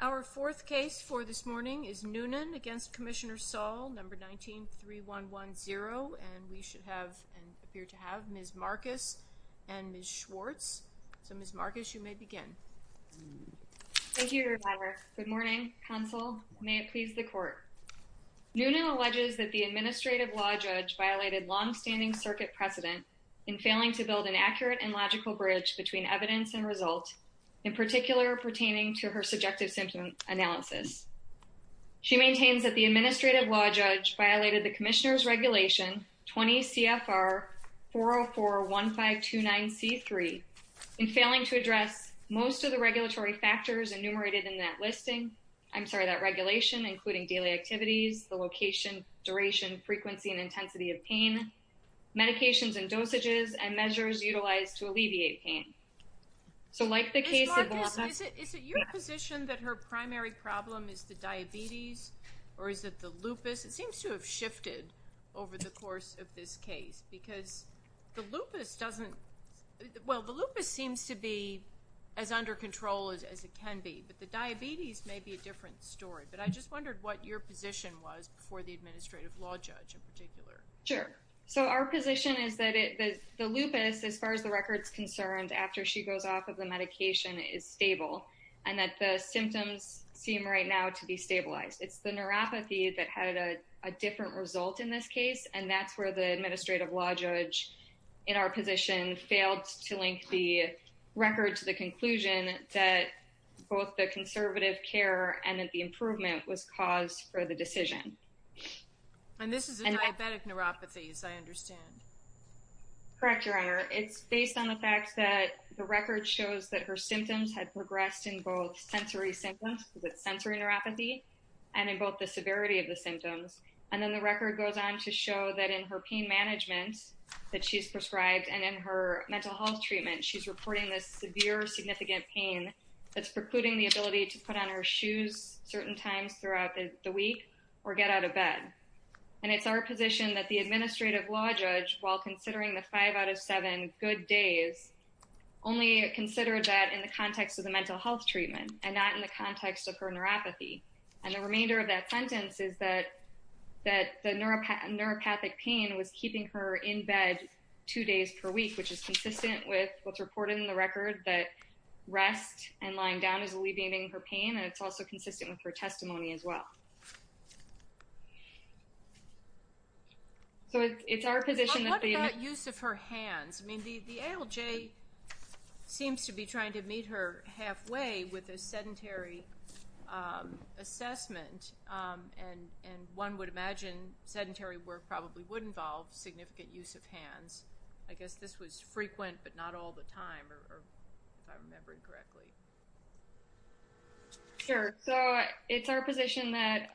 Our fourth case for this morning is Noonan v. Commissioner Saul, number 19-3110, and we should have, and appear to have, Ms. Marcus and Ms. Schwartz. So, Ms. Marcus, you may begin. Thank you, Your Honor. Good morning. Counsel, may it please the Court. Noonan alleges that the administrative law judge violated long-standing circuit precedent in failing to build an accurate and logical bridge between evidence and result, in particular pertaining to her subjective symptom analysis. She maintains that the administrative law judge violated the Commissioner's Regulation 20 CFR 4041529C3 in failing to address most of the regulatory factors enumerated in that listing, I'm sorry, that regulation, including daily activities, the location, duration, frequency, and intensity of pain, medications and dosages, and measures utilized to alleviate pain. Ms. Marcus, is it your position that her primary problem is the diabetes or is it the lupus? It seems to have shifted over the course of this case because the lupus doesn't, well, the lupus seems to be as under control as it can be, but the diabetes may be a different story, but I just wondered what your position was for the administrative law judge in particular. Sure. So our position is that the lupus, as far as the record's concerned, after she goes off of the medication is stable and that the symptoms seem right now to be stabilized. It's the neuropathy that had a different result in this case, and that's where the administrative law judge in our position failed to link the record to the conclusion that both the conservative care and the improvement was caused for the decision. And this is diabetic neuropathy, as I understand. Correct, Your Honor. It's based on the fact that the record shows that her symptoms had progressed in both sensory symptoms, because it's sensory neuropathy, and in both the severity of the symptoms. And then the record goes on to show that in her pain management that she's prescribed and in her mental health treatment, she's reporting this severe, significant pain that's precluding the ability to put on her shoes certain times throughout the week or get out of bed. And it's our position that the administrative law judge, while considering the five out of seven good days, only considered that in the context of the mental health treatment and not in the context of her neuropathy. And the remainder of that sentence is that the neuropathic pain was keeping her in bed two days per week, which is consistent with what's reported in the record that rest and lying down is alleviating her pain, and it's also consistent with her testimony as well. So it's our position that the... What about use of her hands? I mean, the ALJ seems to be trying to meet her halfway with a sedentary assessment, and one would imagine sedentary work probably would involve significant use of hands. I guess this was frequent, but not all the time, if I'm remembering correctly. Sure. So it's our position that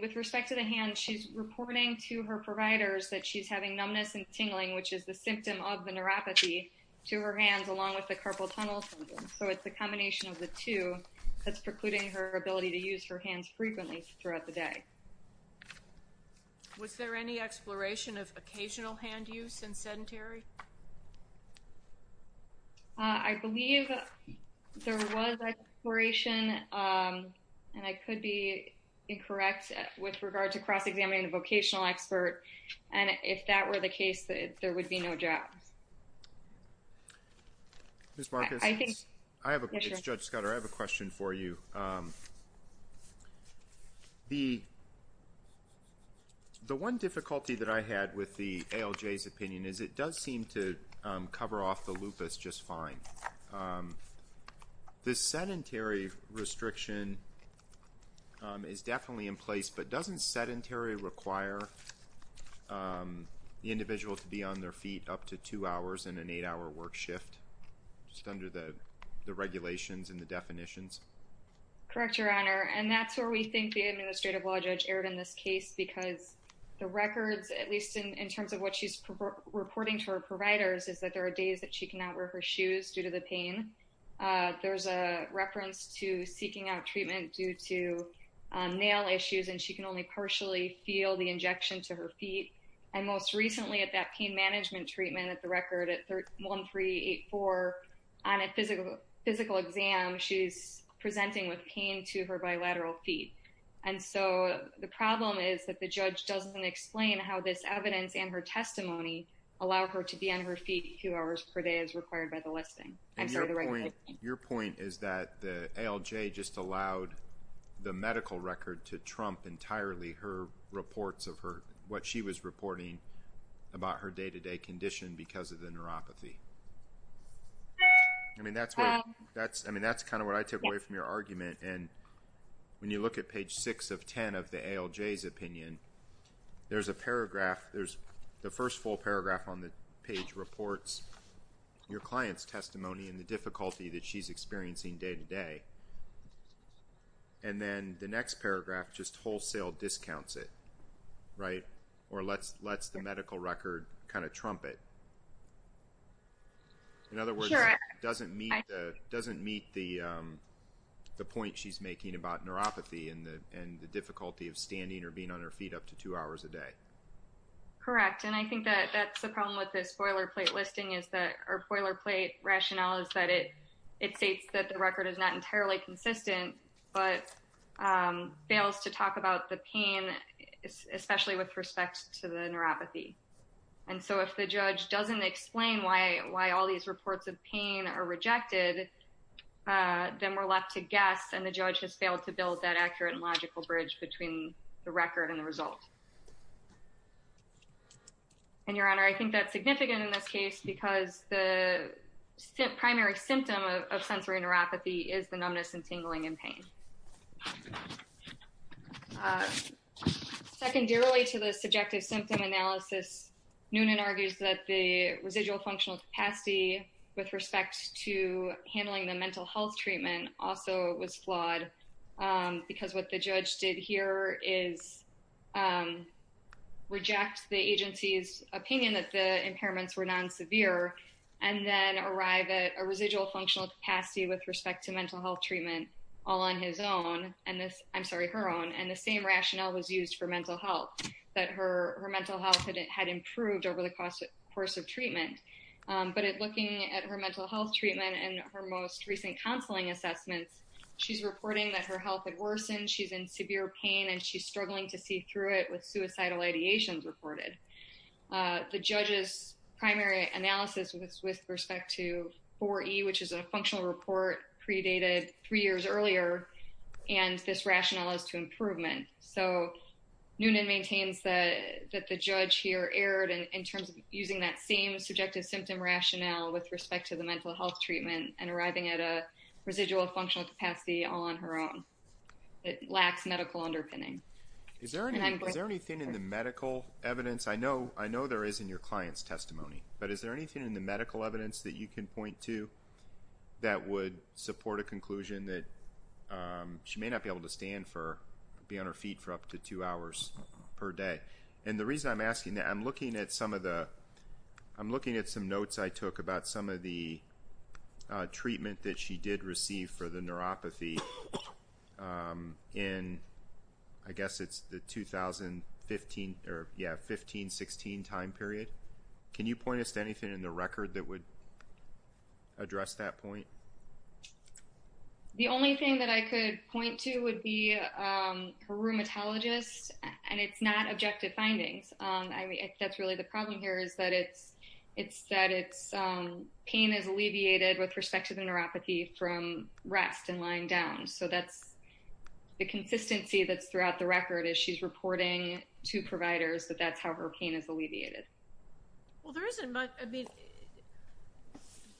with respect to the hand, she's reporting to her providers that she's having numbness and tingling, which is the symptom of the neuropathy to her hands, along with the carpal tunnel syndrome. So it's the combination of the two that's precluding her ability to use her hands frequently throughout the day. Was there any exploration of occasional hand use in sedentary? I believe there was exploration, and I could be incorrect with regard to cross-examining the vocational expert, and if that were the case, there would be no doubt. Ms. Marcus, it's Judge Scudder. I have a question for you. The one difficulty that I had with the ALJ's opinion is it does seem to cover off the lupus just fine. The sedentary restriction is definitely in place, but doesn't sedentary require the individual to be on their feet up to two hours in an eight-hour work shift, just under the regulations and the definitions? Correct, Your Honor, and that's where we think the Administrative Law Judge erred in this case, because the records, at least in terms of what she's reporting to her providers, is that there are days that she cannot wear her shoes due to the pain. There's a reference to seeking out treatment due to nail issues, and she can only partially feel the injection to her feet. And most recently, at that pain management treatment at the record at 1384, on a physical exam, she's presenting with pain to her bilateral feet. And so the problem is that the judge doesn't explain how this evidence and her testimony allow her to be on her feet two hours per day as required by the listing. And your point is that the ALJ just allowed the medical record to trump entirely her reports of what she was reporting about her day-to-day condition because of the neuropathy. I mean, that's kind of what I took away from your argument. And when you look at page 6 of 10 of the ALJ's opinion, there's a paragraph. There's the first full paragraph on the page reports your client's testimony and the difficulty that she's experiencing day-to-day. And then the next paragraph just wholesale discounts it, right, or lets the medical record kind of trump it. In other words, it doesn't meet the point she's making about neuropathy and the difficulty of standing or being on her feet up to two hours a day. Correct. And I think that that's the problem with this boilerplate listing is that—or boilerplate rationale is that it states that the record is not entirely consistent, but fails to talk about the pain, especially with respect to the neuropathy. And so if the judge doesn't explain why all these reports of pain are rejected, then we're left to guess, and the judge has failed to build that accurate and logical bridge between the record and the result. And, Your Honor, I think that's significant in this case because the primary symptom of sensory neuropathy is the numbness and tingling and pain. Secondarily to the subjective symptom analysis, Noonan argues that the residual functional capacity with respect to handling the mental health treatment also was flawed because what the judge did here is reject the agency's opinion that the impairments were non-severe and then arrive at a residual functional capacity with respect to mental health treatment all on his own—I'm sorry, her own. And the same rationale was used for mental health, that her mental health had improved over the course of treatment. But looking at her mental health treatment and her most recent counseling assessments, she's reporting that her health had worsened, she's in severe pain, and she's struggling to see through it with suicidal ideations reported. The judge's primary analysis was with respect to 4E, which is a functional report predated three years earlier, and this rationale is to improvement. So Noonan maintains that the judge here erred in terms of using that same subjective symptom rationale with respect to the mental health treatment and arriving at a residual functional capacity all on her own. It lacks medical underpinning. Is there anything in the medical evidence—I know there is in your client's testimony, but is there anything in the medical evidence that you can point to that would support a conclusion that she may not be able to stand for— be on her feet for up to two hours per day? And the reason I'm asking that, I'm looking at some of the—I'm looking at some notes I took about some of the treatment that she did receive for the neuropathy in, I guess it's the 2015 or, yeah, 15-16 time period. Can you point us to anything in the record that would address that point? The only thing that I could point to would be her rheumatologist, and it's not objective findings. That's really the problem here is that it's—pain is alleviated with respect to the neuropathy from rest and lying down. So that's the consistency that's throughout the record is she's reporting to providers that that's how her pain is alleviated. Well, there isn't much—I mean,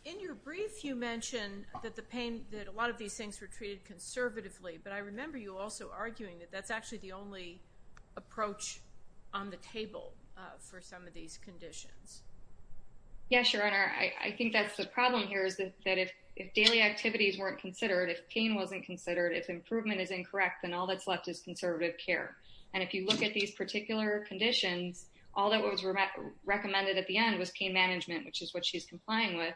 in your brief you mention that the pain—that a lot of these things were treated conservatively, but I remember you also arguing that that's actually the only approach on the table for some of these conditions. Yes, Your Honor. I think that's the problem here is that if daily activities weren't considered, if pain wasn't considered, if improvement is incorrect, then all that's left is conservative care. And if you look at these particular conditions, all that was recommended at the end was pain management, which is what she's complying with.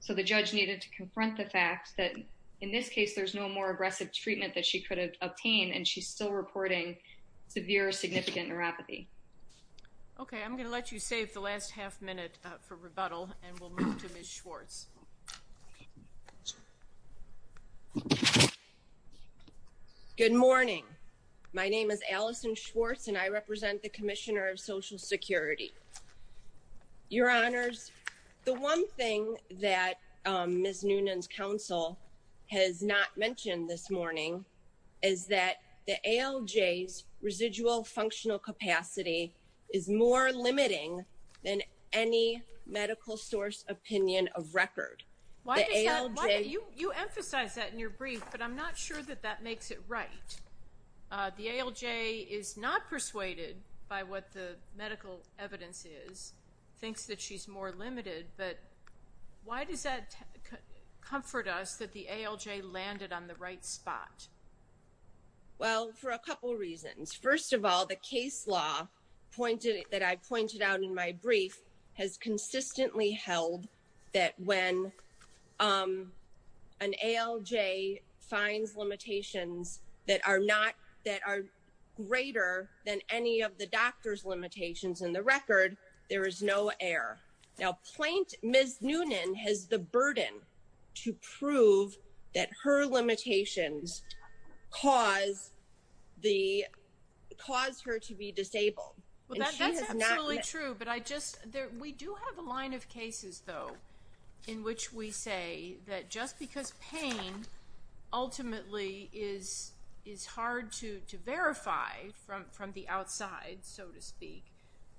So the judge needed to confront the fact that in this case there's no more aggressive treatment that she could have obtained, and she's still reporting severe significant neuropathy. Okay. I'm going to let you save the last half minute for rebuttal, and we'll move to Ms. Schwartz. Good morning. My name is Allison Schwartz, and I represent the Commissioner of Social Security. Your Honors, the one thing that Ms. Noonan's counsel has not mentioned this morning is that the ALJ's residual functional capacity is more limiting than any medical source opinion of record. Why does that—you emphasize that in your brief, but I'm not sure that that makes it right. The ALJ is not persuaded by what the medical evidence is, thinks that she's more limited, but why does that comfort us that the ALJ landed on the right spot? Well, for a couple reasons. First of all, the case law that I pointed out in my brief has consistently held that when an ALJ finds limitations that are greater than any of the doctor's limitations in the record, there is no error. Now, Ms. Noonan has the burden to prove that her limitations cause her to be disabled. That's absolutely true, but I just—we do have a line of cases, though, in which we say that just because pain ultimately is hard to verify from the outside, so to speak,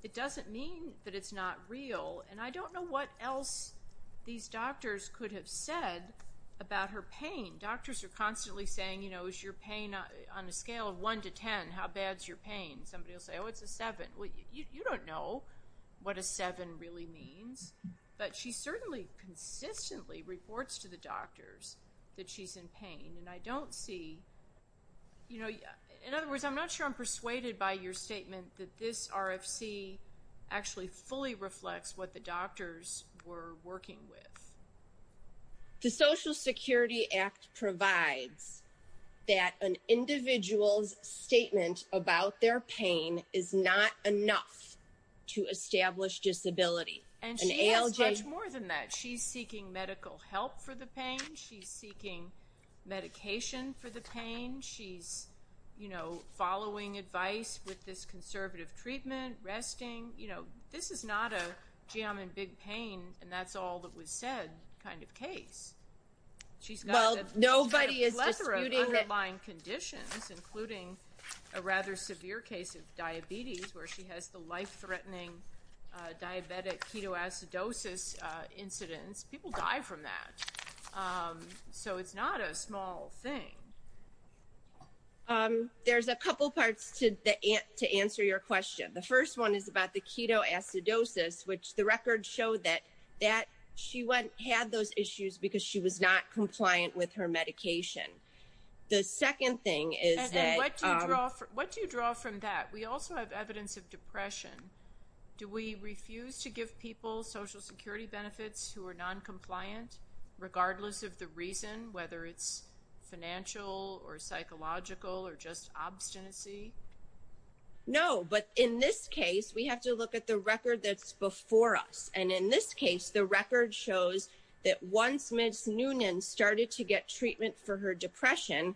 it doesn't mean that it's not real. And I don't know what else these doctors could have said about her pain. Doctors are constantly saying, you know, is your pain on a scale of 1 to 10, how bad's your pain? Somebody will say, oh, it's a 7. Well, you don't know what a 7 really means, but she certainly consistently reports to the doctors that she's in pain, and I don't see—you know, in other words, I'm not sure I'm persuaded by your statement that this RFC actually fully reflects what the doctors were working with. The Social Security Act provides that an individual's statement about their pain is not enough to establish disability. And she has much more than that. She's seeking medical help for the pain. She's seeking medication for the pain. She's, you know, following advice with this conservative treatment, resting. You know, this is not a, gee, I'm in big pain, and that's all that was said kind of case. She's got a plethora of underlying conditions, including a rather severe case of diabetes, where she has the life-threatening diabetic ketoacidosis incidence. People die from that. So it's not a small thing. There's a couple parts to answer your question. The first one is about the ketoacidosis, which the records show that she had those issues because she was not compliant with her medication. The second thing is that— And then what do you draw from that? We also have evidence of depression. Do we refuse to give people Social Security benefits who are noncompliant, regardless of the reason, whether it's financial or psychological or just obstinacy? No, but in this case, we have to look at the record that's before us. And in this case, the record shows that once Ms. Noonan started to get treatment for her depression,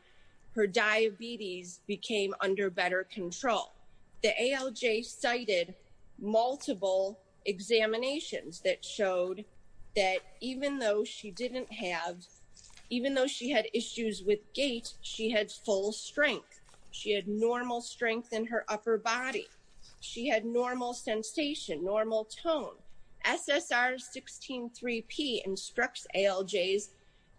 her diabetes became under better control. The ALJ cited multiple examinations that showed that even though she didn't have— even though she had issues with gait, she had full strength. She had normal strength in her upper body. She had normal sensation, normal tone. SSR 16-3P instructs ALJs,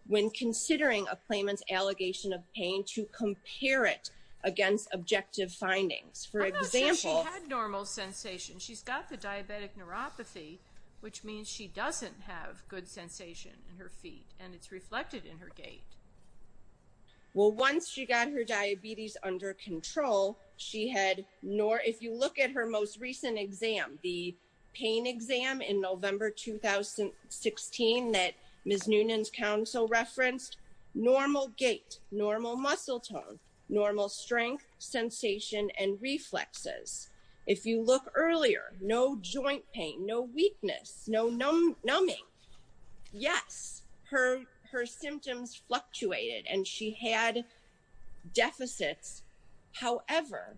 when considering a claimant's allegation of pain, to compare it against objective findings. For example— I'm not sure she had normal sensation. She's got the diabetic neuropathy, which means she doesn't have good sensation in her feet, and it's reflected in her gait. Well, once she got her diabetes under control, she had— if you look at her most recent exam, the pain exam in November 2016 that Ms. Noonan's counsel referenced, normal gait, normal muscle tone, normal strength, sensation, and reflexes. If you look earlier, no joint pain, no weakness, no numbing. Yes, her symptoms fluctuated, and she had deficits. However,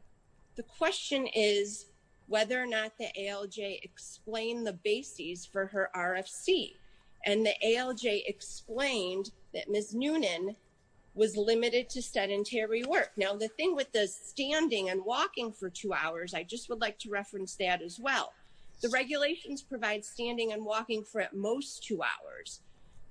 the question is whether or not the ALJ explained the bases for her RFC. And the ALJ explained that Ms. Noonan was limited to sedentary work. Now, the thing with the standing and walking for two hours, I just would like to reference that as well. The regulations provide standing and walking for at most two hours.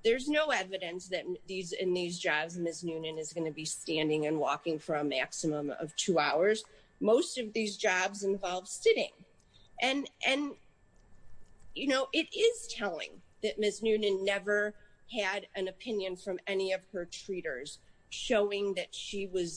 There's no evidence that in these jobs Ms. Noonan is going to be standing and walking for a maximum of two hours. Most of these jobs involve sitting. And, you know, it is telling that Ms. Noonan never had an opinion from any of her treaters showing that she wasn't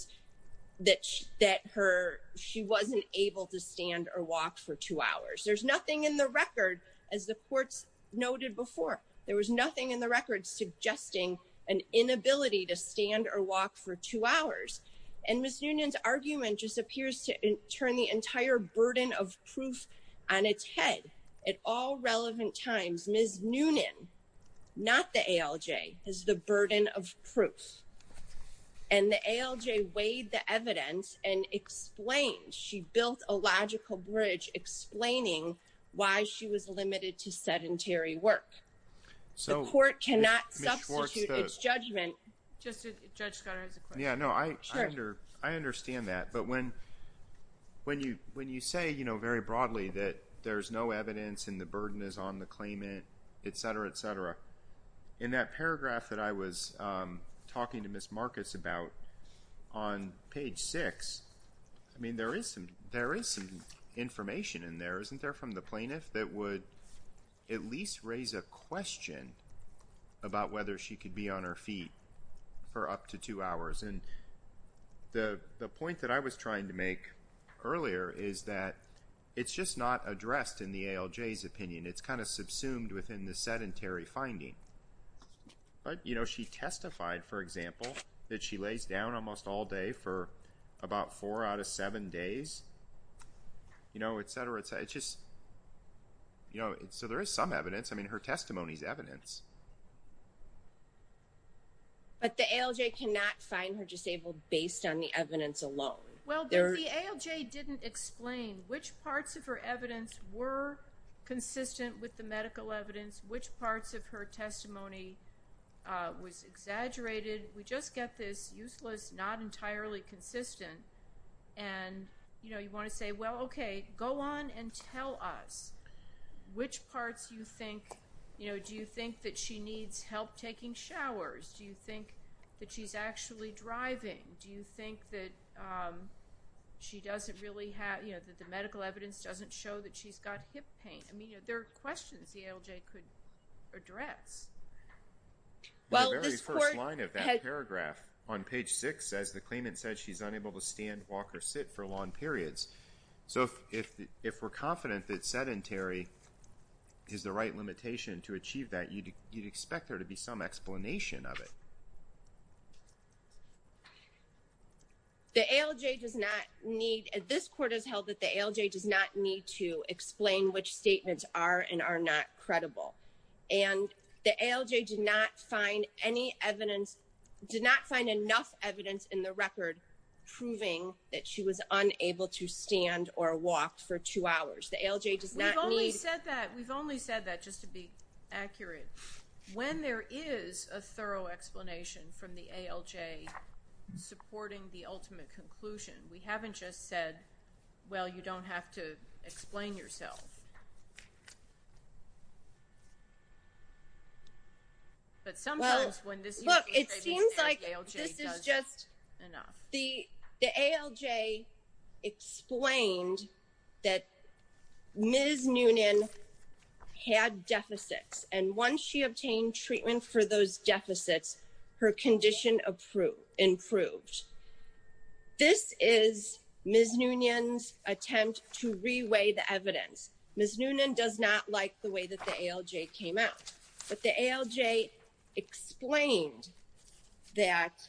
able to stand or walk for two hours. There's nothing in the record, as the courts noted before, there was nothing in the record suggesting an inability to stand or walk for two hours. And Ms. Noonan's argument just appears to turn the entire burden of proof on its head. At all relevant times, Ms. Noonan, not the ALJ, is the burden of proof. And the ALJ weighed the evidence and explained. She built a logical bridge explaining why she was limited to sedentary work. The court cannot substitute its judgment. Judge Scott, I have a question. Yeah, no, I understand that. But when you say, you know, very broadly that there's no evidence and the burden is on the claimant, et cetera, et cetera, in that paragraph that I was talking to Ms. Marcus about on page 6, I mean, there is some information in there, isn't there, from the plaintiff that would at least raise a question about whether she could be on her feet for up to two hours? And the point that I was trying to make earlier is that it's just not addressed in the ALJ's opinion. It's kind of subsumed within the sedentary finding. But, you know, she testified, for example, that she lays down almost all day for about four out of seven days, you know, et cetera, et cetera. It's just, you know, so there is some evidence. I mean, her testimony is evidence. But the ALJ cannot find her disabled based on the evidence alone. Well, the ALJ didn't explain which parts of her evidence were consistent with the medical evidence, which parts of her testimony was exaggerated. We just get this useless, not entirely consistent, and, you know, you want to say, well, okay, go on and tell us which parts you think, you know, do you think that she needs help taking showers? Do you think that she's actually driving? Do you think that she doesn't really have, you know, that the medical evidence doesn't show that she's got hip pain? I mean, there are questions the ALJ could address. The very first line of that paragraph on page 6 says, the claimant said she's unable to stand, walk, or sit for long periods. So if we're confident that sedentary is the right limitation to achieve that, you'd expect there to be some explanation of it. The ALJ does not need, this court has held that the ALJ does not need to explain which statements are and are not credible. And the ALJ did not find any evidence, did not find enough evidence in the record proving that she was unable to stand or walk for two hours. The ALJ does not need. We've only said that, we've only said that just to be accurate. When there is a thorough explanation from the ALJ supporting the ultimate conclusion, we haven't just said, well, you don't have to explain yourself. But sometimes when this is the case, the ALJ does not. Well, look, it seems like this is just enough. The ALJ explained that Ms. Noonan had deficits, and once she obtained treatment for those deficits, her condition improved. This is Ms. Noonan's attempt to reweigh the evidence. Ms. Noonan does not like the way that the ALJ came out. But the ALJ explained that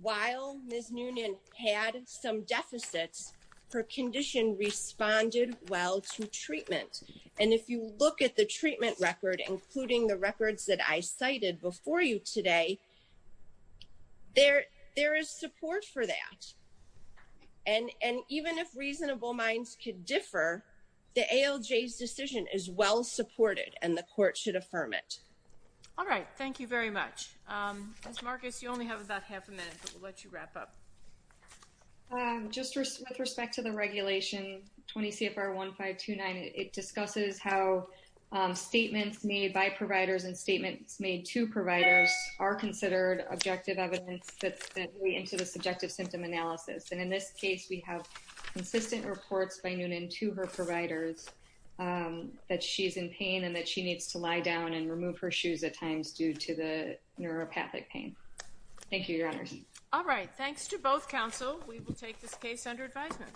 while Ms. Noonan had some deficits, her condition responded well to treatment. And if you look at the treatment record, including the records that I cited before you today, there is support for that. And even if reasonable minds could differ, the ALJ's decision is well supported, and the court should affirm it. All right. Thank you very much. Ms. Marcus, you only have about half a minute, but we'll let you wrap up. Just with respect to the regulation 20 CFR 1529, it discusses how statements made by providers and statements made to providers are considered objective evidence that's sent into the subjective symptom analysis. And in this case, we have consistent reports by Noonan to her providers that she's in pain and that she needs to lie down and remove her shoes at times due to the neuropathic pain. Thank you, Your Honors. All right. Thanks to both counsel. We will take this case under advisement.